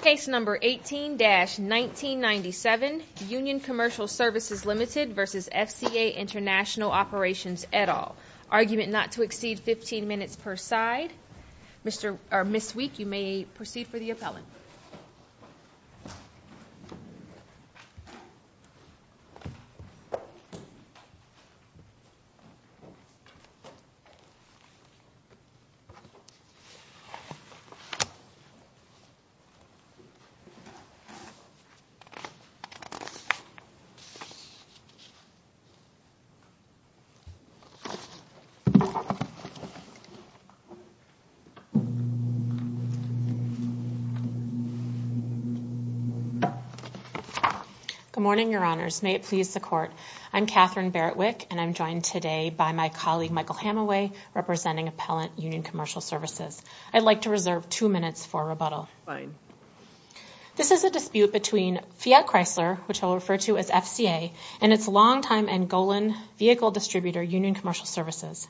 Case number 18-1997, Union Commercial Services Ltd v. FCA International Operations, et al. Argument not to exceed 15 minutes per side. Ms. Week, you may proceed for the appellant. Good morning, Your Honors. May it please the Court, I'm Katherine Barrett-Wick, and I'm joined today by my colleague, Michael Hamaway, representing Appellant Union Commercial Services. I'd like to reserve two minutes for rebuttal. This is a dispute between Fiat Chrysler, which I'll refer to as FCA, and its long-time Angolan vehicle distributor, Union Commercial Services.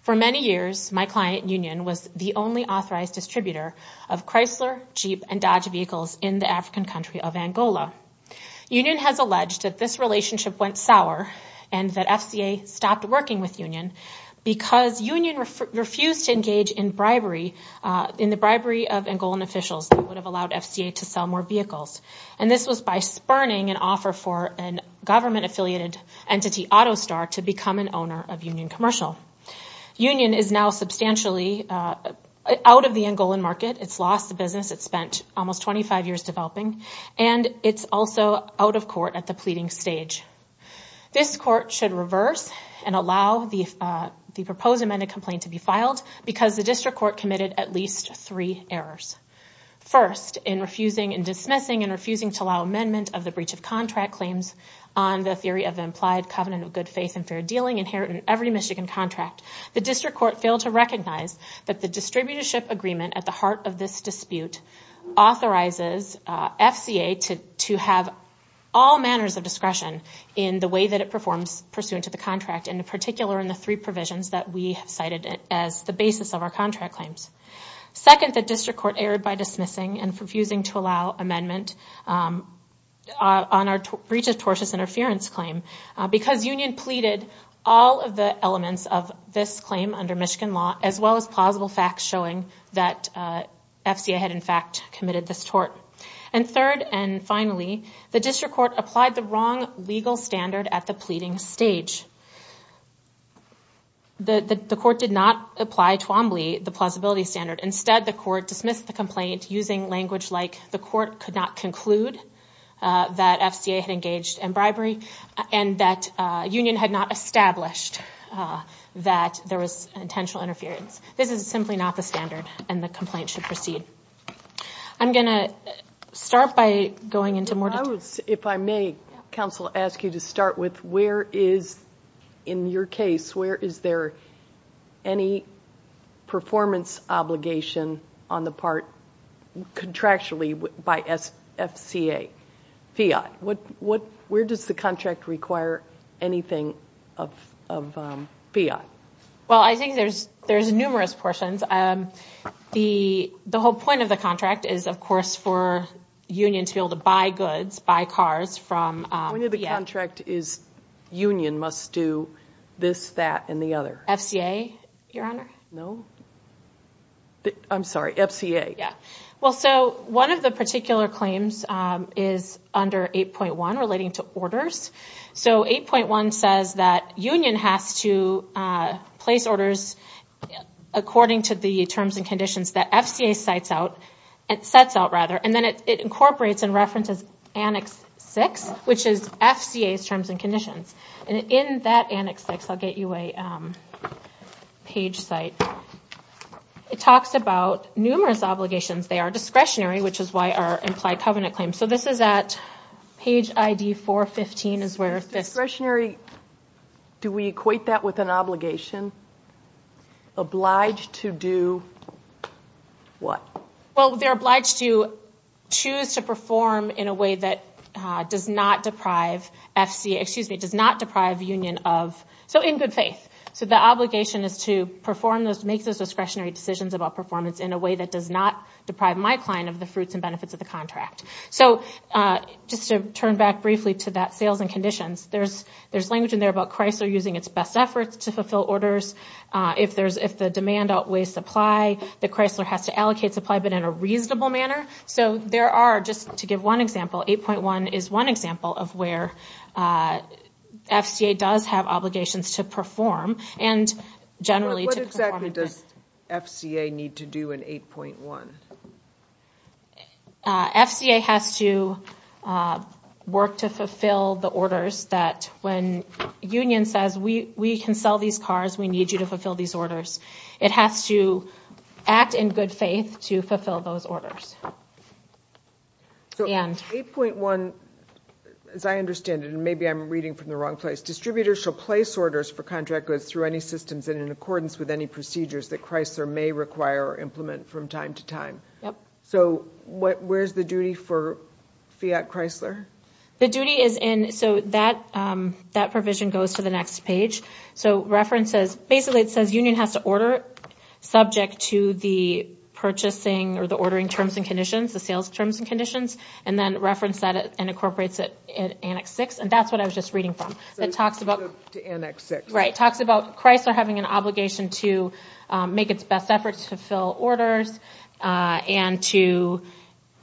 For many years, my client, Union, was the only authorized distributor of Chrysler, Jeep, and Dodge vehicles in the African country of Angola. Union has alleged that this relationship went sour and that FCA stopped working with Union because Union refused to engage in bribery, in the bribery of Angolan officials that would have allowed FCA to sell more vehicles. And this was by spurning an offer for a government-affiliated entity, AutoStar, to become an owner of Union Commercial. Union is now substantially out of the Angolan market, it's lost the business it spent almost 25 years developing, and it's also out of court at the pleading stage. This court should reverse and allow the proposed amended complaint to be filed because the District Court committed at least three errors. First, in refusing and dismissing and refusing to allow amendment of the breach of contract claims on the theory of implied covenant of good faith and fair dealing inherited in every Michigan contract, the District Court failed to recognize that the distributorship agreement at the heart of this dispute authorizes FCA to have all manners of discretion in the way that it performs pursuant to the contract, in particular in the three provisions that we have cited as the basis of our contract claims. Second, the District Court erred by dismissing and refusing to allow amendment on our breach of tortious interference claim because Union pleaded all of the elements of this claim under Michigan law, as well as plausible facts showing that FCA had in fact committed this tort. And third and finally, the District Court applied the wrong legal standard at the pleading stage. The court did not apply Twombly, the plausibility standard. Instead, the court dismissed the complaint using language like the court could not conclude that FCA had engaged in bribery and that Union had not established that there was intentional interference. This is simply not the standard and the complaint should proceed. I'm going to start by going into more detail. If I may, counsel, ask you to start with where is, in your case, where is there any performance obligation on the part contractually by FCA, Fiat? Where does the contract require anything of Fiat? Well, I think there's numerous portions. The whole point of the contract is, of course, for Union to be able to buy goods, buy cars from Fiat. The point of the contract is Union must do this, that, and the other. FCA, Your Honor? No. I'm sorry. FCA. Yeah. Well, so one of the particular claims is under 8.1 relating to orders. So 8.1 says that Union has to place orders according to the terms and conditions that FCA sets out. Then it incorporates and references Annex 6, which is FCA's terms and conditions. In that Annex 6, I'll get you a page site. It talks about numerous obligations. They are discretionary, which is why our implied covenant claim. So this is at page ID 415 is where this... Discretionary. Do we equate that with an obligation? Obliged to do what? Well, they're obliged to choose to perform in a way that does not deprive Union of... So in good faith. So the obligation is to perform those, make those discretionary decisions about performance in a way that does not deprive my client of the fruits and benefits of the contract. So just to turn back briefly to that sales and conditions, there's language in there about Chrysler using its best efforts to fulfill orders. If the demand outweighs supply, the Chrysler has to allocate supply, but in a reasonable manner. So there are... Just to give one example, 8.1 is one example of where FCA does have obligations to perform and generally to perform... What exactly does FCA need to do in 8.1? FCA has to work to fulfill the orders that when Union says, we can sell these cars, we need you to fulfill these orders. It has to act in good faith to fulfill those orders. So 8.1, as I understand it, and maybe I'm reading from the wrong place, distributors shall place orders for contract goods through any systems and in accordance with any procedures that Chrysler may require or implement from time to time. So where's the duty for Fiat Chrysler? The duty is in... So that provision goes to the next page. So references... Basically, it says Union has to order subject to the purchasing or the ordering terms and conditions, the sales terms and conditions, and then reference that and incorporates it in Annex 6, and that's what I was just reading from. It talks about... To Annex 6. Right. It talks about Chrysler having an obligation to make its best efforts to fulfill orders and to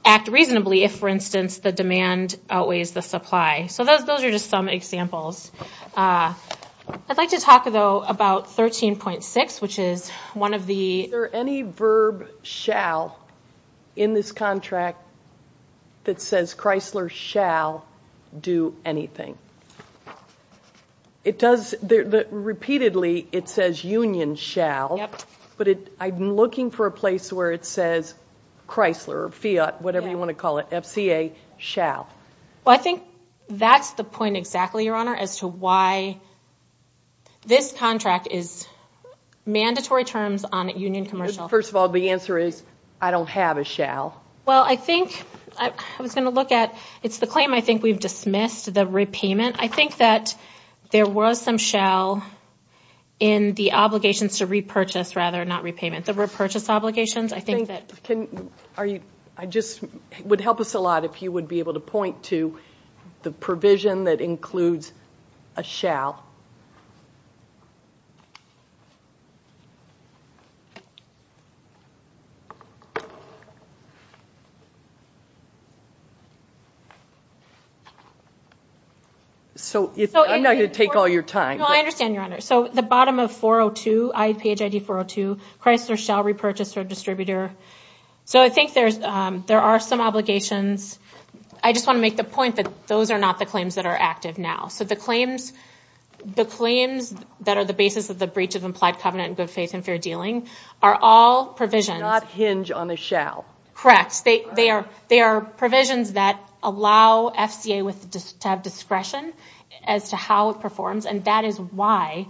act reasonably if, for instance, the demand outweighs the supply. So those are just some examples. I'd like to talk, though, about 13.6, which is one of the... Is there any verb shall in this contract that says Chrysler shall do anything? It does... Repeatedly, it says Union shall. Yep. But I'm looking for a place where it says Chrysler or Fiat, whatever you want to call it, FCA shall. Well, I think that's the point exactly, Your Honor, as to why this contract is mandatory terms on a Union commercial. First of all, the answer is I don't have a shall. Well, I think I was going to look at... It's the claim I think we've dismissed, the repayment. I think that there was some shall in the obligations to repurchase rather than repayment. The repurchase obligations, I think that... It would help us a lot if you would be able to point to the provision that includes a shall. I'm not going to take all your time. No, I understand, Your Honor. The bottom of page 402, Chrysler shall repurchase or distributor. I think there are some obligations. I just want to make the point that those are not the claims that are active now. The claims that are the basis of the breach of implied covenant in good faith and fair dealing are all provisions... They do not hinge on a shall. Correct. They are provisions that allow FCA to have discretion as to how it performs, and that is why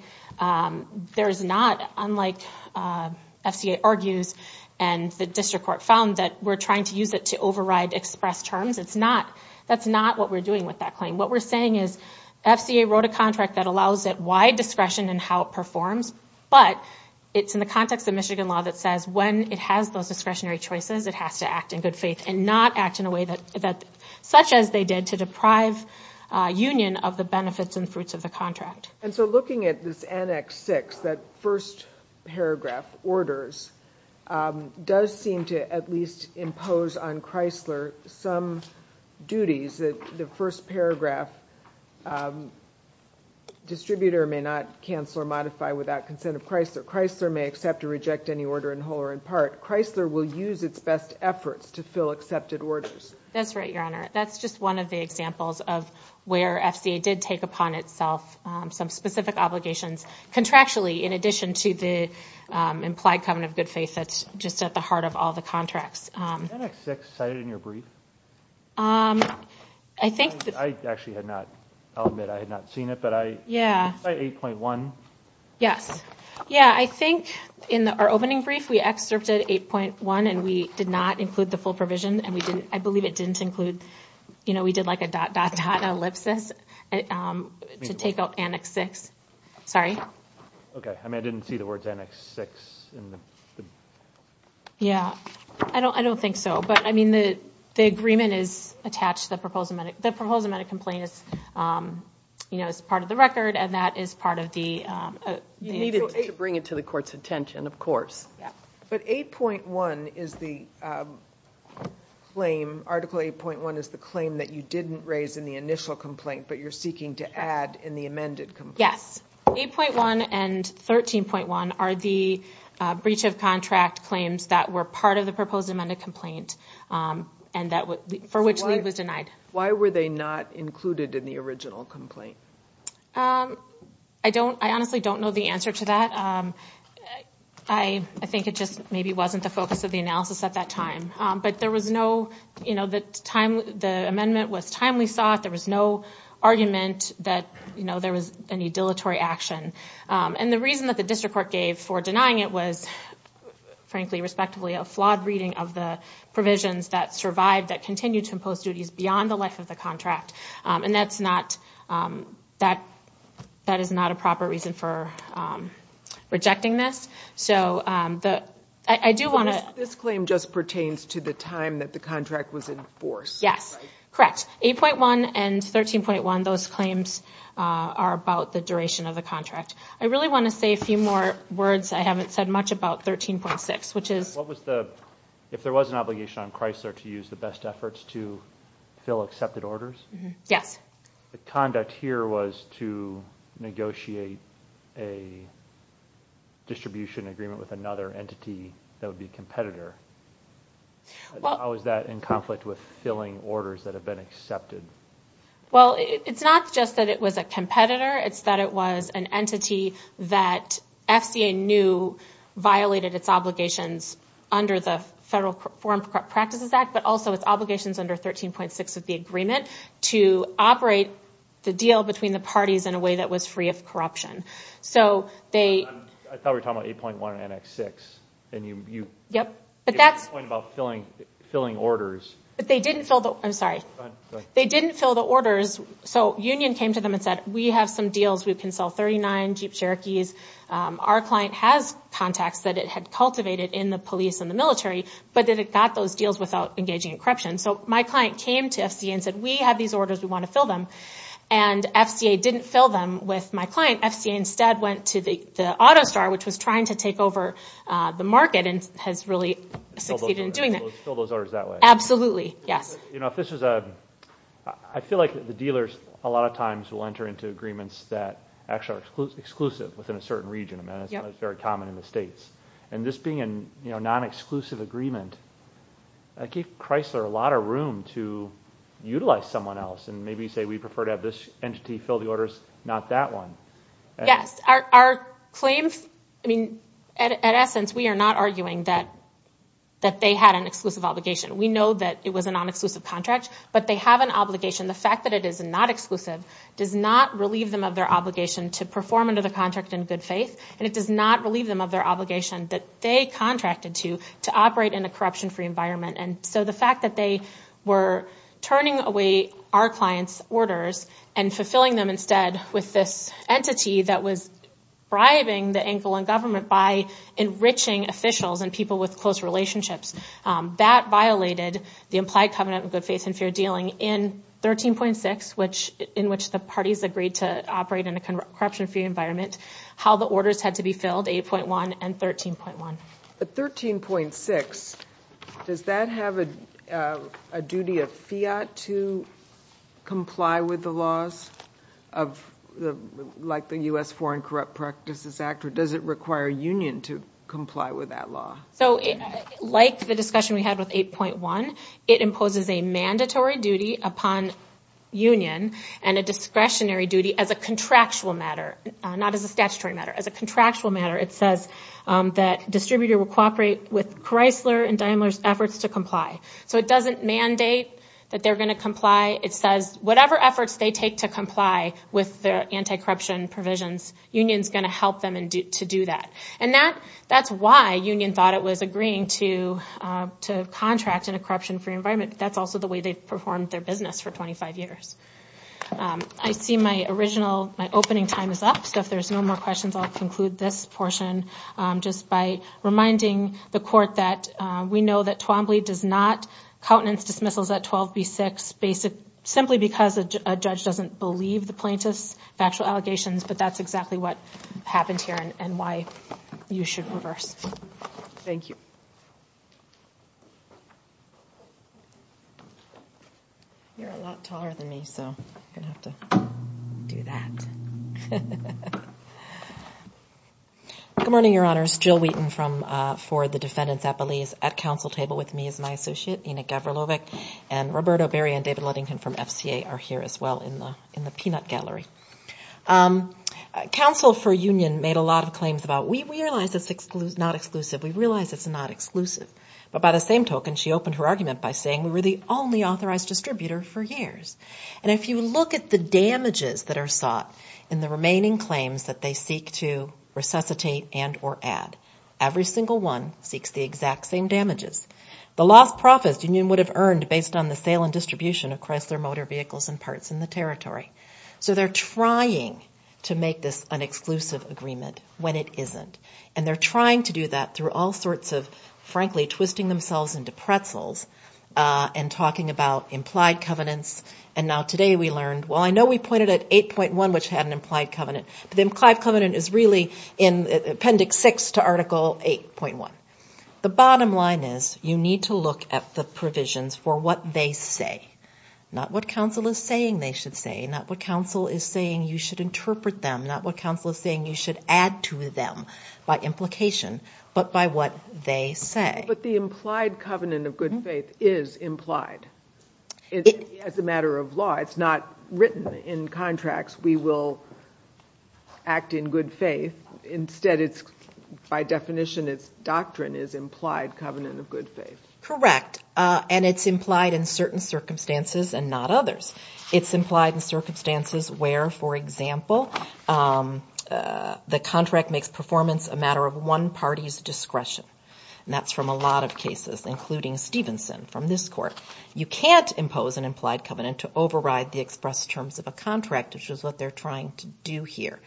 there is not, unlike FCA argues and the district court found, that we're trying to use it to override express terms. That's not what we're doing with that claim. What we're saying is FCA wrote a contract that allows it wide discretion in how it performs, but it's in the context of Michigan law that says when it has those discretionary choices, it has to act in good faith and not act in a way such as they did to deprive union of the benefits and fruits of the contract. And so looking at this Annex 6, that first paragraph, orders, does seem to at least impose on Chrysler some duties that the first paragraph distributor may not cancel or modify without consent of Chrysler. Chrysler may accept or reject any order in whole or in part. Chrysler will use its best efforts to fill accepted orders. That's right, Your Honor. That's just one of the examples of where FCA did take upon itself some specific obligations contractually in addition to the implied covenant of good faith that's just at the heart of all the contracts. Was the Annex 6 cited in your brief? I actually had not. I'll admit I had not seen it, but I... Yeah. Is it 8.1? Yes. Yeah, I think in our opening brief we excerpted 8.1 and we did not include the full provision, and I believe it didn't include, you know, we did like a dot, dot, dot ellipsis to take out Annex 6. Sorry. Okay. I mean, I didn't see the words Annex 6 in the... Yeah. I don't think so. But, I mean, the agreement is attached. The proposed amended complaint is, you know, is part of the record, and that is part of the... You need it to bring it to the Court's attention, of course. But 8.1 is the claim, Article 8.1 is the claim that you didn't raise in the initial complaint, but you're seeking to add in the amended complaint. Yes. 8.1 and 13.1 are the breach of contract claims that were part of the proposed amended complaint, and that would...for which Lee was denied. Why were they not included in the original complaint? I don't...I honestly don't know the answer to that. I think it just maybe wasn't the focus of the analysis at that time. But there was no, you know, the time...the amendment was timely sought. There was no argument that, you know, there was any dilatory action. And the reason that the district court gave for denying it was, frankly, respectively, a flawed reading of the provisions that survived, that continued to impose duties beyond the life of the contract. And that's not...that is not a proper reason for rejecting this. So I do want to... This claim just pertains to the time that the contract was in force, right? Yes, correct. 8.1 and 13.1, those claims are about the duration of the contract. I really want to say a few more words. I haven't said much about 13.6, which is... What was the...if there was an obligation on Chrysler to use the best efforts to fill accepted orders? Yes. The conduct here was to negotiate a distribution agreement with another entity that would be a competitor. How is that in conflict with filling orders that have been accepted? Well, it's not just that it was a competitor. It's that it was an entity that FCA knew violated its obligations under the Federal Foreign Practices Act, but also its obligations under 13.6 of the agreement to operate the deal between the parties in a way that was free of corruption. So they... I thought we were talking about 8.1 and Annex 6. Yep. You made a point about filling orders. But they didn't fill the...I'm sorry. Go ahead. They didn't fill the orders. So Union came to them and said, we have some deals. We can sell 39 Jeep Cherokees. Our client has contacts that it had cultivated in the police and the military, but that it got those deals without engaging in corruption. So my client came to FCA and said, we have these orders. We want to fill them. And FCA didn't fill them with my client. FCA instead went to the auto store, which was trying to take over the market and has really succeeded in doing that. Fill those orders that way. Absolutely. Yes. I feel like the dealers a lot of times will enter into agreements that actually are exclusive within a certain region. It's very common in the states. And this being a non-exclusive agreement gave Chrysler a lot of room to utilize someone else and maybe say, we prefer to have this entity fill the orders, not that one. Yes. Our claims, I mean, at essence, we are not arguing that they had an exclusive obligation. We know that it was a non-exclusive contract, but they have an obligation. The fact that it is not exclusive does not relieve them of their obligation to perform under the contract in good faith, and it does not relieve them of their obligation that they contracted to, to operate in a corruption-free environment. And so the fact that they were turning away our client's orders and fulfilling them instead with this entity that was bribing the Angolan government by enriching officials and people with close relationships, that violated the implied covenant of good faith and fair dealing in 13.6, in which the parties agreed to operate in a corruption-free environment, how the orders had to be filled, 8.1 and 13.1. But 13.6, does that have a duty of fiat to comply with the laws of, like the U.S. Foreign Corrupt Practices Act, or does it require a union to comply with that law? So like the discussion we had with 8.1, it imposes a mandatory duty upon union and a discretionary duty as a contractual matter, not as a statutory matter. As a contractual matter, it says that distributor will cooperate with Chrysler and Daimler's efforts to comply. So it doesn't mandate that they're going to comply. It says whatever efforts they take to comply with their anti-corruption provisions, union's going to help them to do that. And that's why union thought it was agreeing to contract in a corruption-free environment. That's also the way they've performed their business for 25 years. I see my original, my opening time is up, so if there's no more questions, I'll conclude this portion just by reminding the court that we know that Twombly does not countenance dismissals at 12B6 simply because a judge doesn't believe the plaintiff's factual allegations, but that's exactly what happened here and why you should reverse. Thank you. You're a lot taller than me, so I'm going to have to do that. Good morning, Your Honors. Jill Wheaton for the defendants at Belize. At counsel table with me is my associate, Enoch Gavrilovic, and Roberto Berry and David Luddington from FCA are here as well in the peanut gallery. Counsel for union made a lot of claims about, we realize it's not exclusive. We realize it's not exclusive. But by the same token, she opened her argument by saying we were the only authorized distributor for years. And if you look at the damages that are sought in the remaining claims that they seek to resuscitate and or add, every single one seeks the exact same damages. The lost profits the union would have earned based on the sale and distribution of Chrysler motor vehicles and parts in the territory. So they're trying to make this an exclusive agreement when it isn't. And they're trying to do that through all sorts of, frankly, twisting themselves into pretzels and talking about implied covenants and now today we learned, well, I know we pointed at 8.1, which had an implied covenant, but the implied covenant is really in Appendix 6 to Article 8.1. The bottom line is you need to look at the provisions for what they say, not what counsel is saying they should say, not what counsel is saying you should interpret them, not what counsel is saying you should add to them by implication, but by what they say. But the implied covenant of good faith is implied. As a matter of law, it's not written in contracts, we will act in good faith. Instead, by definition, its doctrine is implied covenant of good faith. Correct. And it's implied in certain circumstances and not others. It's implied in circumstances where, for example, the contract makes performance a matter of one party's discretion, and that's from a lot of cases, including Stevenson from this court. You can't impose an implied covenant to override the express terms of a contract, which is what they're trying to do here.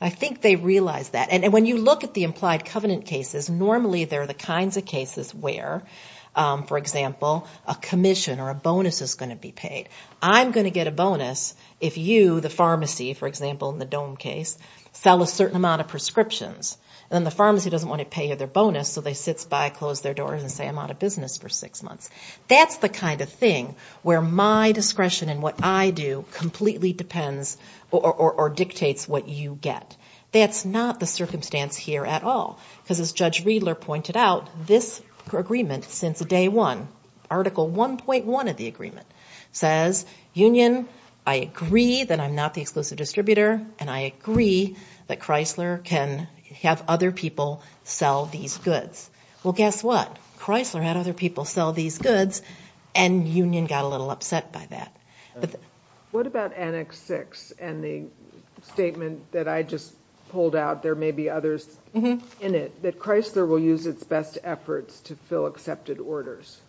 I think they realize that. And when you look at the implied covenant cases, normally they're the kinds of cases where, for example, a commission or a bonus is going to be paid. I'm going to get a bonus if you, the pharmacy, for example, in the dome case, sell a certain amount of prescriptions, and then the pharmacy doesn't want to pay you their bonus, so they sit by, close their doors, and say I'm out of business for six months. That's the kind of thing where my discretion in what I do completely depends or dictates what you get. That's not the circumstance here at all, because as Judge Riedler pointed out, this agreement since day one, Article 1.1 of the agreement, says union, I agree that I'm not the exclusive distributor, and I agree that Chrysler can have other people sell these goods. Well, guess what? Chrysler had other people sell these goods, and union got a little upset by that. What about Annex 6 and the statement that I just pulled out, there may be others in it, that Chrysler will use its best efforts to fill accepted orders?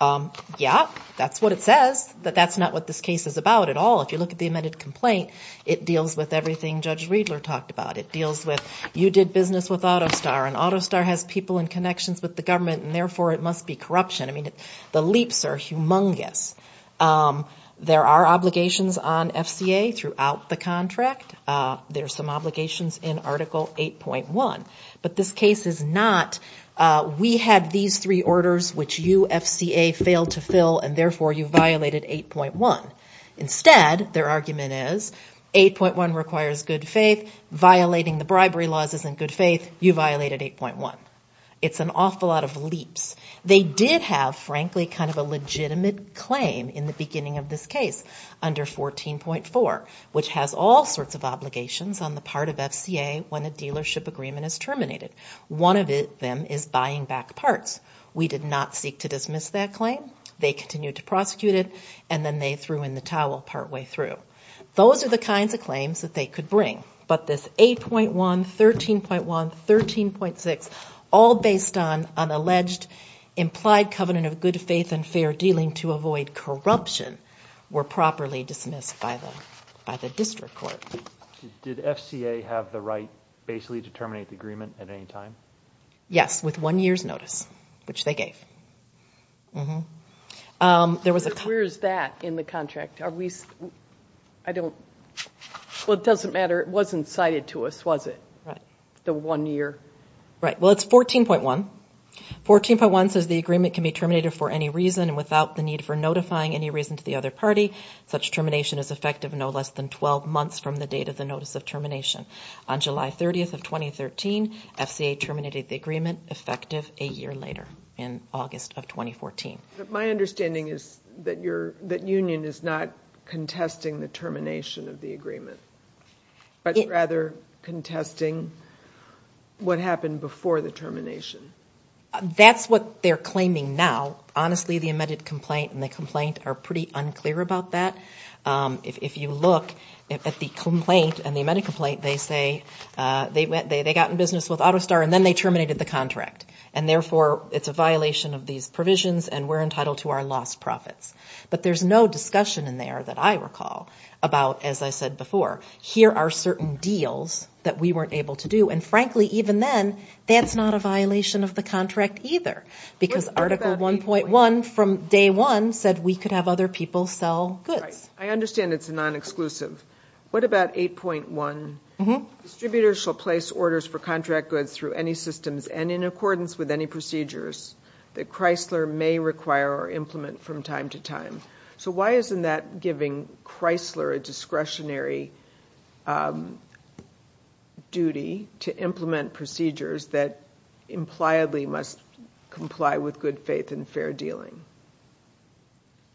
Yeah, that's what it says, but that's not what this case is about at all. If you look at the amended complaint, it deals with everything Judge Riedler talked about. It deals with you did business with AutoStar, and AutoStar has people in connections with the government, and therefore it must be corruption. I mean, the leaps are humongous. There are obligations on FCA throughout the contract. There are some obligations in Article 8.1. But this case is not we had these three orders which you, FCA, failed to fill, and therefore you violated 8.1. Instead, their argument is 8.1 requires good faith, violating the bribery laws isn't good faith, you violated 8.1. It's an awful lot of leaps. They did have, frankly, kind of a legitimate claim in the beginning of this case under 14.4, which has all sorts of obligations on the part of FCA when a dealership agreement is terminated. One of them is buying back parts. We did not seek to dismiss that claim. They continued to prosecute it, and then they threw in the towel partway through. Those are the kinds of claims that they could bring. But this 8.1, 13.1, 13.6, all based on an alleged implied covenant of good faith and fair dealing to avoid corruption were properly dismissed by the district court. Did FCA have the right basically to terminate the agreement at any time? Yes, with one year's notice, which they gave. Where is that in the contract? Well, it doesn't matter. It wasn't cited to us, was it, the one year? Right. Well, it's 14.1. 14.1 says the agreement can be terminated for any reason and without the need for notifying any reason to the other party. Such termination is effective no less than 12 months from the date of the notice of termination. On July 30th of 2013, FCA terminated the agreement, effective a year later in August of 2014. My understanding is that union is not contesting the termination of the agreement but rather contesting what happened before the termination. That's what they're claiming now. Honestly, the amended complaint and the complaint are pretty unclear about that. If you look at the complaint and the amended complaint, they say they got in business with AutoStar and then they terminated the contract, and therefore it's a violation of these provisions and we're entitled to our lost profits. But there's no discussion in there that I recall about, as I said before, here are certain deals that we weren't able to do. And frankly, even then, that's not a violation of the contract either because Article 1.1 from day one said we could have other people sell goods. I understand it's a non-exclusive. What about 8.1? Distributors shall place orders for contract goods through any systems and in accordance with any procedures that Chrysler may require or implement from time to time. So why isn't that giving Chrysler a discretionary duty to implement procedures that impliedly must comply with good faith and fair dealing?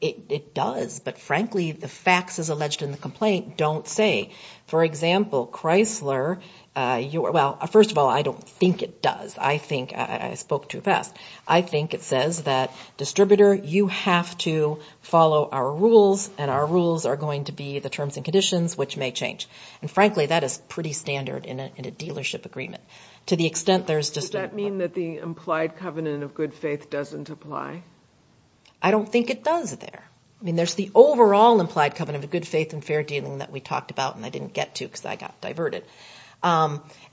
It does, but frankly, the facts, as alleged in the complaint, don't say. For example, Chrysler, well, first of all, I don't think it does. I think I spoke too fast. I think it says that, distributor, you have to follow our rules and our rules are going to be the terms and conditions, which may change. And frankly, that is pretty standard in a dealership agreement. To the extent there's just a- Does that mean that the implied covenant of good faith doesn't apply? I don't think it does there. I mean, there's the overall implied covenant of good faith and fair dealing that we talked about and I didn't get to because I got diverted.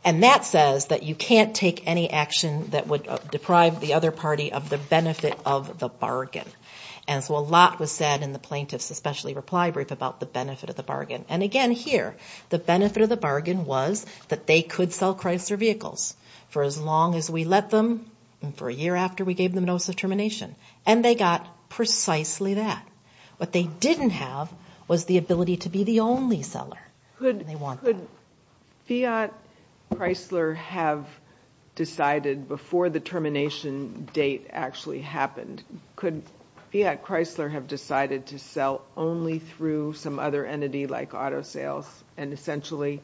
And that says that you can't take any action that would deprive the other party of the benefit of the bargain. And so a lot was said in the plaintiff's especially reply brief about the benefit of the bargain. And again here, the benefit of the bargain was that they could sell Chrysler vehicles for as long as we let them and for a year after we gave them notice of termination. And they got precisely that. What they didn't have was the ability to be the only seller. Could Fiat Chrysler have decided before the termination date actually happened, could Fiat Chrysler have decided to sell only through some other entity like auto sales and essentially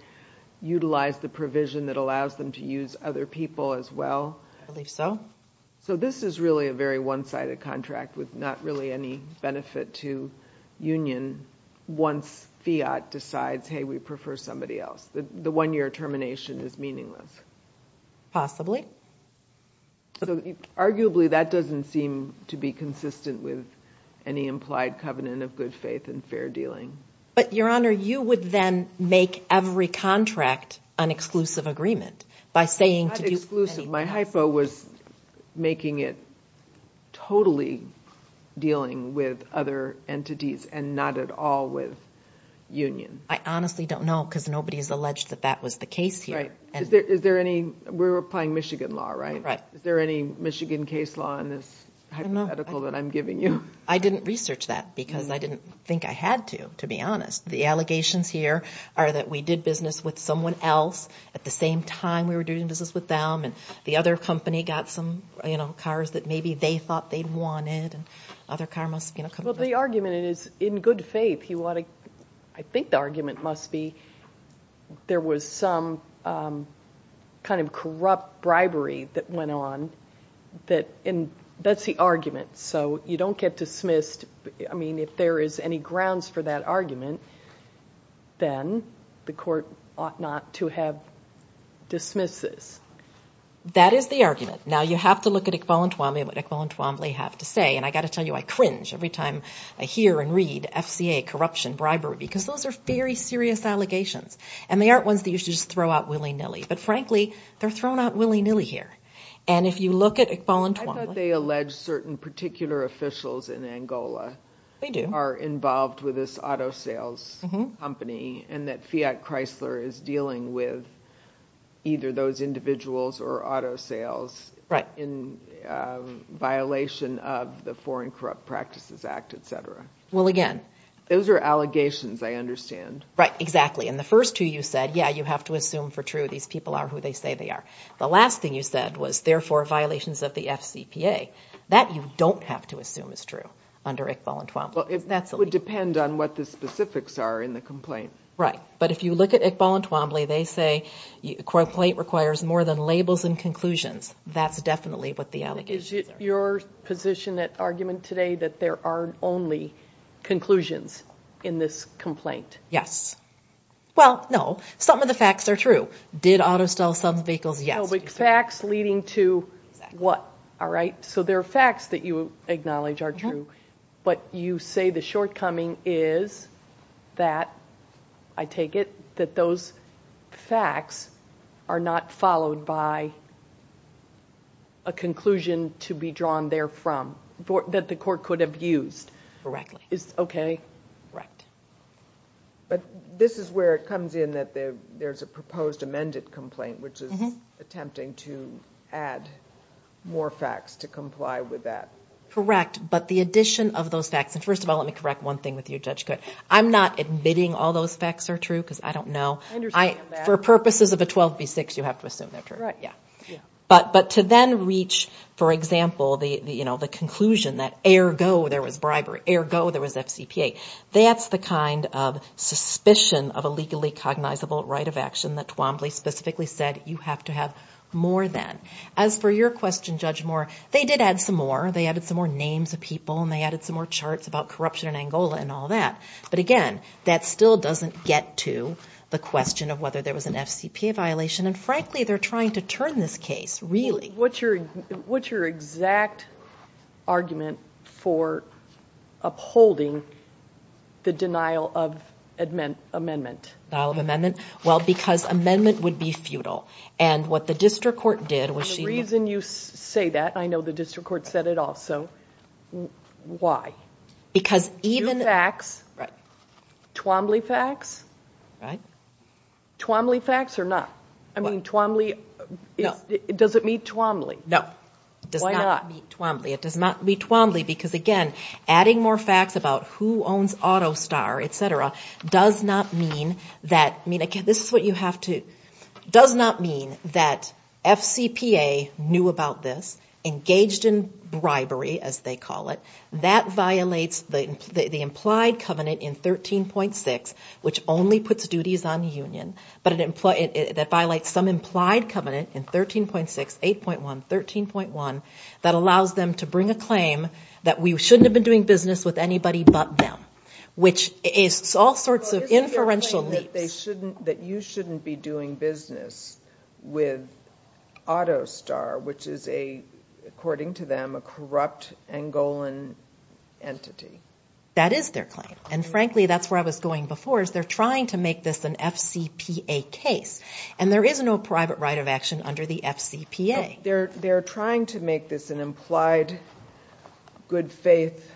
utilize the provision that allows them to use other people as well? I believe so. So this is really a very one-sided contract with not really any benefit to union once Fiat decides, hey, we prefer somebody else. The one-year termination is meaningless. Possibly. Arguably, that doesn't seem to be consistent with any implied covenant of good faith and fair dealing. But, Your Honor, you would then make every contract an exclusive agreement by saying to do many things. My hypho was making it totally dealing with other entities and not at all with union. I honestly don't know because nobody has alleged that that was the case here. Right. Is there any? We're applying Michigan law, right? Right. Is there any Michigan case law in this hypothetical that I'm giving you? I didn't research that because I didn't think I had to, to be honest. The allegations here are that we did business with someone else at the same time we were doing business with them and the other company got some cars that maybe they thought they wanted and other car must have come. Well, the argument is in good faith. I think the argument must be there was some kind of corrupt bribery that went on. That's the argument. So you don't get dismissed. I mean, if there is any grounds for that argument, then the court ought not to have dismissed this. That is the argument. Now, you have to look at Iqbal and Twombly and what Iqbal and Twombly have to say, and I've got to tell you I cringe every time I hear and read FCA, corruption, bribery, because those are very serious allegations. And they aren't ones that you should just throw out willy-nilly. But, frankly, they're thrown out willy-nilly here. And if you look at Iqbal and Twombly. I thought they alleged certain particular officials in Angola are involved with this auto sales company and that Fiat Chrysler is dealing with either those individuals or auto sales in violation of the Foreign Corrupt Practices Act, et cetera. Well, again. Those are allegations, I understand. Right, exactly. And the first two you said, yeah, you have to assume for true these people are who they say they are. The last thing you said was, therefore, violations of the FCPA. That you don't have to assume is true under Iqbal and Twombly. Well, it would depend on what the specifics are in the complaint. Right. But if you look at Iqbal and Twombly, they say the complaint requires more than labels and conclusions. That's definitely what the allegations are. Is it your position at argument today that there are only conclusions in this complaint? Yes. Well, no. Some of the facts are true. Did auto sales sell the vehicles? Yes. No, but facts leading to what? All right. So there are facts that you acknowledge are true. But you say the shortcoming is that, I take it, that those facts are not followed by a conclusion to be drawn there from, that the court could have used. Correctly. Okay. Correct. But this is where it comes in that there's a proposed amended complaint, which is attempting to add more facts to comply with that. Correct. But the addition of those facts, and first of all, let me correct one thing with you, Judge. I'm not admitting all those facts are true because I don't know. I understand that. For purposes of a 12B6, you have to assume they're true. Right. Yeah. But to then reach, for example, the conclusion that ergo there was bribery, ergo there was FCPA. That's the kind of suspicion of a legally cognizable right of action that Twombly specifically said you have to have more than. As for your question, Judge Moore, they did add some more. They added some more names of people, and they added some more charts about corruption in Angola and all that. But, again, that still doesn't get to the question of whether there was an FCPA violation. And, frankly, they're trying to turn this case, really. What's your exact argument for upholding the denial of amendment? Denial of amendment? Well, because amendment would be futile. And what the district court did was she... The reason you say that, I know the district court said it also. Why? Because even... Two facts. Right. Twombly facts. Right. Twombly facts or not? I mean, Twombly... No. Does it meet Twombly? No. It does not meet Twombly. It does not meet Twombly because, again, adding more facts about who owns AutoStar, et cetera, does not mean that... I mean, again, this is what you have to... Does not mean that FCPA knew about this, engaged in bribery, as they call it. That violates the implied covenant in 13.6, which only puts duties on union. That violates some implied covenant in 13.6, 8.1, 13.1, that allows them to bring a claim that we shouldn't have been doing business with anybody but them, which is all sorts of inferential leaps. Isn't there a claim that you shouldn't be doing business with AutoStar, which is, according to them, a corrupt Angolan entity? That is their claim. And, frankly, that's where I was going before, is they're trying to make this an FCPA case. And there is no private right of action under the FCPA. They're trying to make this an implied good-faith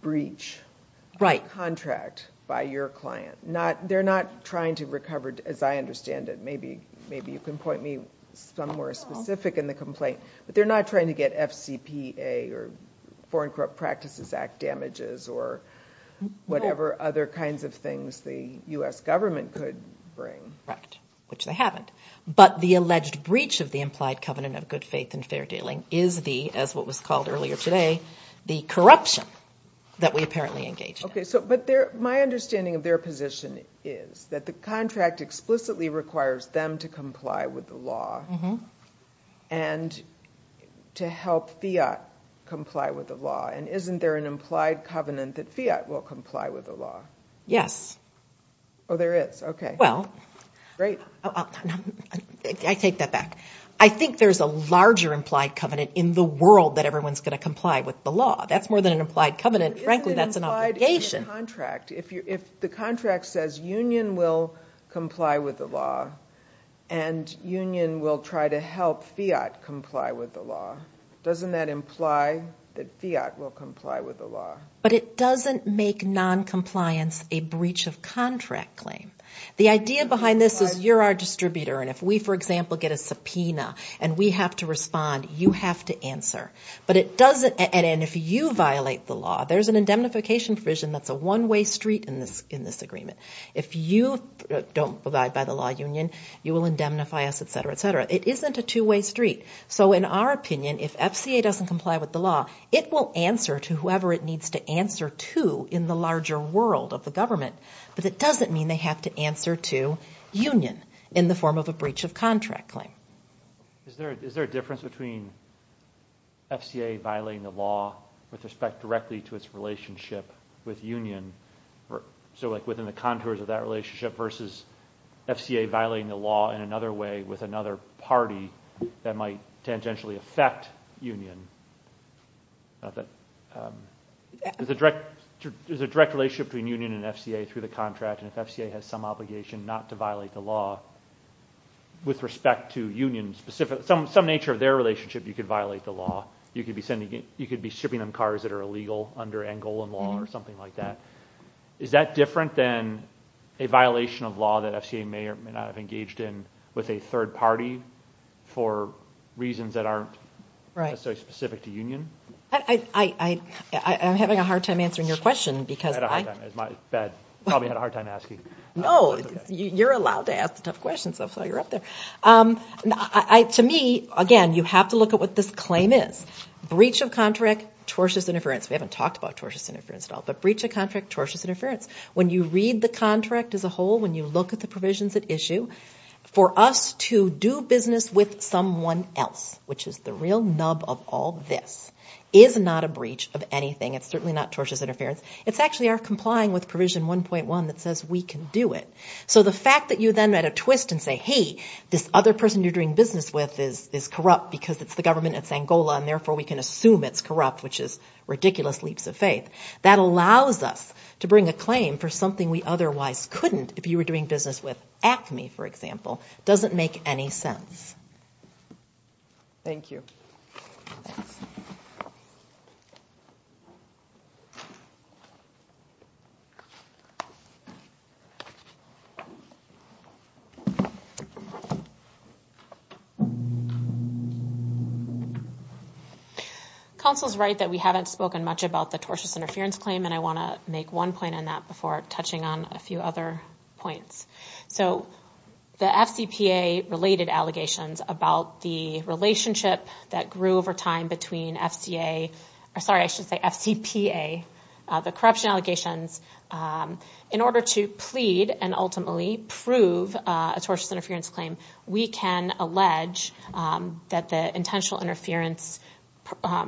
breach. Right. Contract by your client. They're not trying to recover, as I understand it. Maybe you can point me somewhere specific in the complaint. But they're not trying to get FCPA or Foreign Corrupt Practices Act damages or whatever other kinds of things the U.S. government could bring. Correct. Which they haven't. But the alleged breach of the implied covenant of good faith and fair dealing is the, as what was called earlier today, the corruption that we apparently engaged in. Okay. But my understanding of their position is that the contract explicitly requires them to comply with the law and to help FIAT comply with the law. And isn't there an implied covenant that FIAT will comply with the law? Yes. Oh, there is. Okay. Well. Great. I take that back. I think there's a larger implied covenant in the world that everyone's going to comply with the law. That's more than an implied covenant. Frankly, that's an obligation. But isn't it implied in the contract? If the contract says union will comply with the law and union will try to help FIAT comply with the law, doesn't that imply that FIAT will comply with the law? But it doesn't make noncompliance a breach of contract claim. The idea behind this is you're our distributor and if we, for example, get a subpoena and we have to respond, you have to answer. But it doesn't, and if you violate the law, there's an indemnification provision that's a one-way street in this agreement. If you don't abide by the law union, you will indemnify us, et cetera, et cetera. It isn't a two-way street. So in our opinion, if FCA doesn't comply with the law, it will answer to whoever it needs to answer to in the larger world of the government. But it doesn't mean they have to answer to union in the form of a breach of contract claim. Is there a difference between FCA violating the law with respect directly to its relationship with union? So like within the contours of that relationship versus FCA violating the law in another way with another party that might tangentially affect union. Is a direct relationship between union and FCA through the contract and if FCA has some obligation not to violate the law with respect to union specific, some nature of their relationship, you could violate the law. You could be shipping them cars that are illegal under Angolan law or something like that. Is that different than a violation of law that FCA may or may not have engaged in with a third party for reasons that aren't specific to union? I'm having a hard time answering your question. I had a hard time. I probably had a hard time asking. No, you're allowed to ask the tough questions. That's why you're up there. To me, again, you have to look at what this claim is. Breach of contract, tortious interference. We haven't talked about tortious interference at all. But breach of contract, tortious interference. When you read the contract as a whole, when you look at the provisions at issue, for us to do business with someone else, which is the real nub of all this, is not a breach of anything. It's certainly not tortious interference. It's actually our complying with provision 1.1 that says we can do it. So the fact that you then add a twist and say, hey, this other person you're doing business with is corrupt because it's the government, it's Angola, and therefore we can assume it's corrupt, which is ridiculous leaps of faith. That allows us to bring a claim for something we otherwise couldn't if you were doing business with ACME, for example. It doesn't make any sense. Thank you. Thanks. Counsel's right that we haven't spoken much about the tortious interference claim, and I want to make one point on that before touching on a few other points. The FCPA-related allegations about the relationship that grew over time between FCPA, the corruption allegations, in order to plead and ultimately prove a tortious interference claim, we can allege that the intentional interference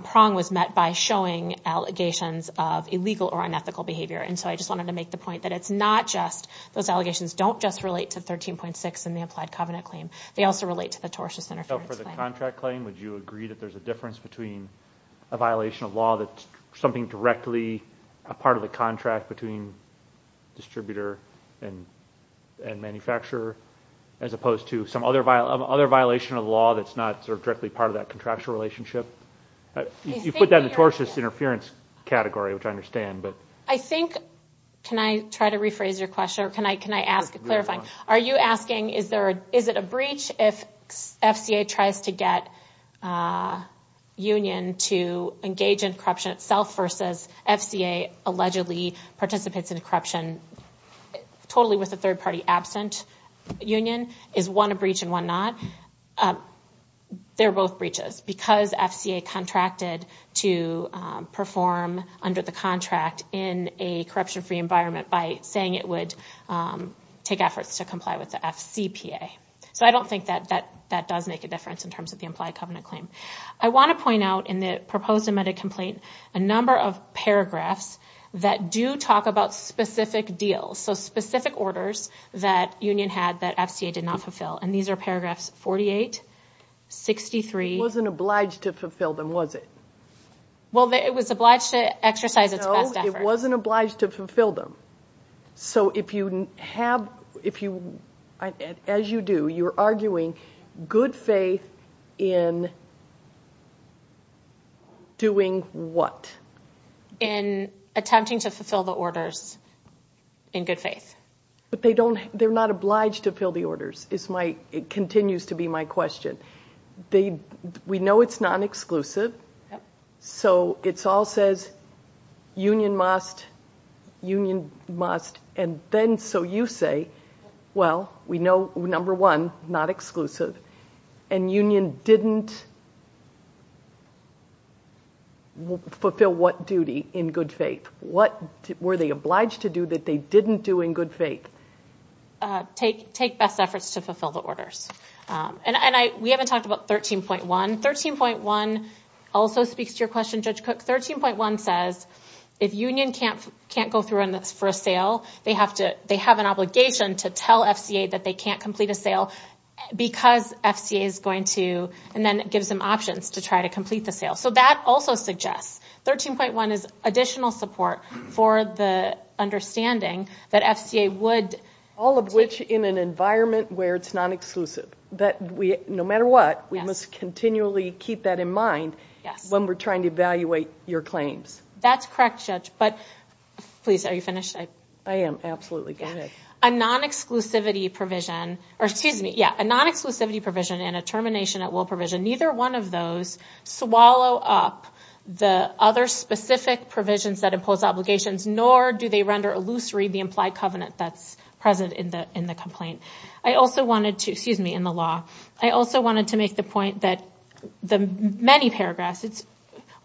prong was met by showing allegations of illegal or unethical behavior. And so I just wanted to make the point that it's not just those allegations don't just relate to 13.6 in the applied covenant claim. They also relate to the tortious interference claim. So for the contract claim, would you agree that there's a difference between a violation of law that's something directly a part of the contract between distributor and manufacturer as opposed to some other violation of law that's not sort of directly part of that contractual You put that in the tortious interference category, which I understand. I think, can I try to rephrase your question? Can I ask a clarifying? Are you asking is it a breach if FCA tries to get a union to engage in corruption itself versus FCA allegedly participates in corruption totally with a third party absent union? Is one a breach and one not? They're both breaches. Because FCA contracted to perform under the contract in a corruption-free environment by saying it would take efforts to comply with the FCPA. So I don't think that does make a difference in terms of the implied covenant claim. I want to point out in the proposed amended complaint a number of paragraphs that do talk about specific deals. So specific orders that union had that FCA did not fulfill. And these are paragraphs 48, 63. It wasn't obliged to fulfill them, was it? Well, it was obliged to exercise its best efforts. No, it wasn't obliged to fulfill them. So if you have, as you do, you're arguing good faith in doing what? In attempting to fulfill the orders in good faith. But they're not obliged to fill the orders, it continues to be my question. We know it's non-exclusive. So it all says union must, union must. And then so you say, well, we know, number one, not exclusive. And union didn't fulfill what duty in good faith? What were they obliged to do that they didn't do in good faith? Take best efforts to fulfill the orders. And we haven't talked about 13.1. 13.1 also speaks to your question, Judge Cook. 13.1 says if union can't go through for a sale, they have an obligation to tell FCA that they can't complete a sale because FCA is going to, and then it gives them options to try to complete the sale. So that also suggests 13.1 is additional support for the understanding that FCA would. All of which in an environment where it's non-exclusive. No matter what, we must continually keep that in mind when we're trying to evaluate your claims. That's correct, Judge. But please, are you finished? I am, absolutely. Go ahead. A non-exclusivity provision, or excuse me, yeah, a non-exclusivity provision and a termination at will provision, neither one of those swallow up the other specific provisions that impose obligations, nor do they render illusory the implied covenant that's present in the complaint. I also wanted to, excuse me, in the law, I also wanted to make the point that the many paragraphs,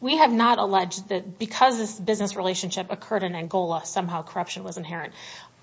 we have not alleged that because this business relationship occurred in Angola, somehow corruption was inherent.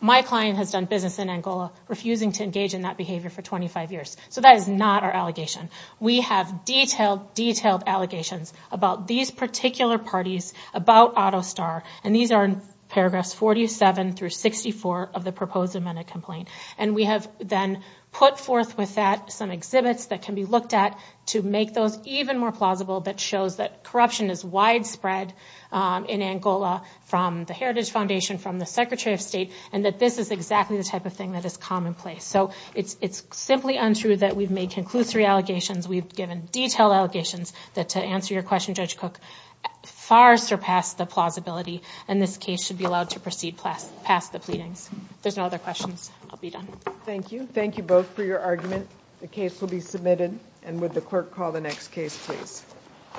My client has done business in Angola, refusing to engage in that behavior for 25 years. So that is not our allegation. We have detailed, detailed allegations about these particular parties, about AutoStar. And these are in paragraphs 47 through 64 of the proposed amended complaint. And we have then put forth with that some exhibits that can be looked at to make those even more plausible that shows that corruption is widespread in Angola from the Heritage Foundation, from the Secretary of State, and that this is exactly the type of thing that is commonplace. So it's simply untrue that we've made conclusory allegations. We've given detailed allegations that to answer your question, Judge Cook, far surpassed the plausibility. And this case should be allowed to proceed past the pleadings. If there's no other questions, I'll be done. Thank you. Thank you both for your argument. The case will be submitted. And would the clerk call the next case, please.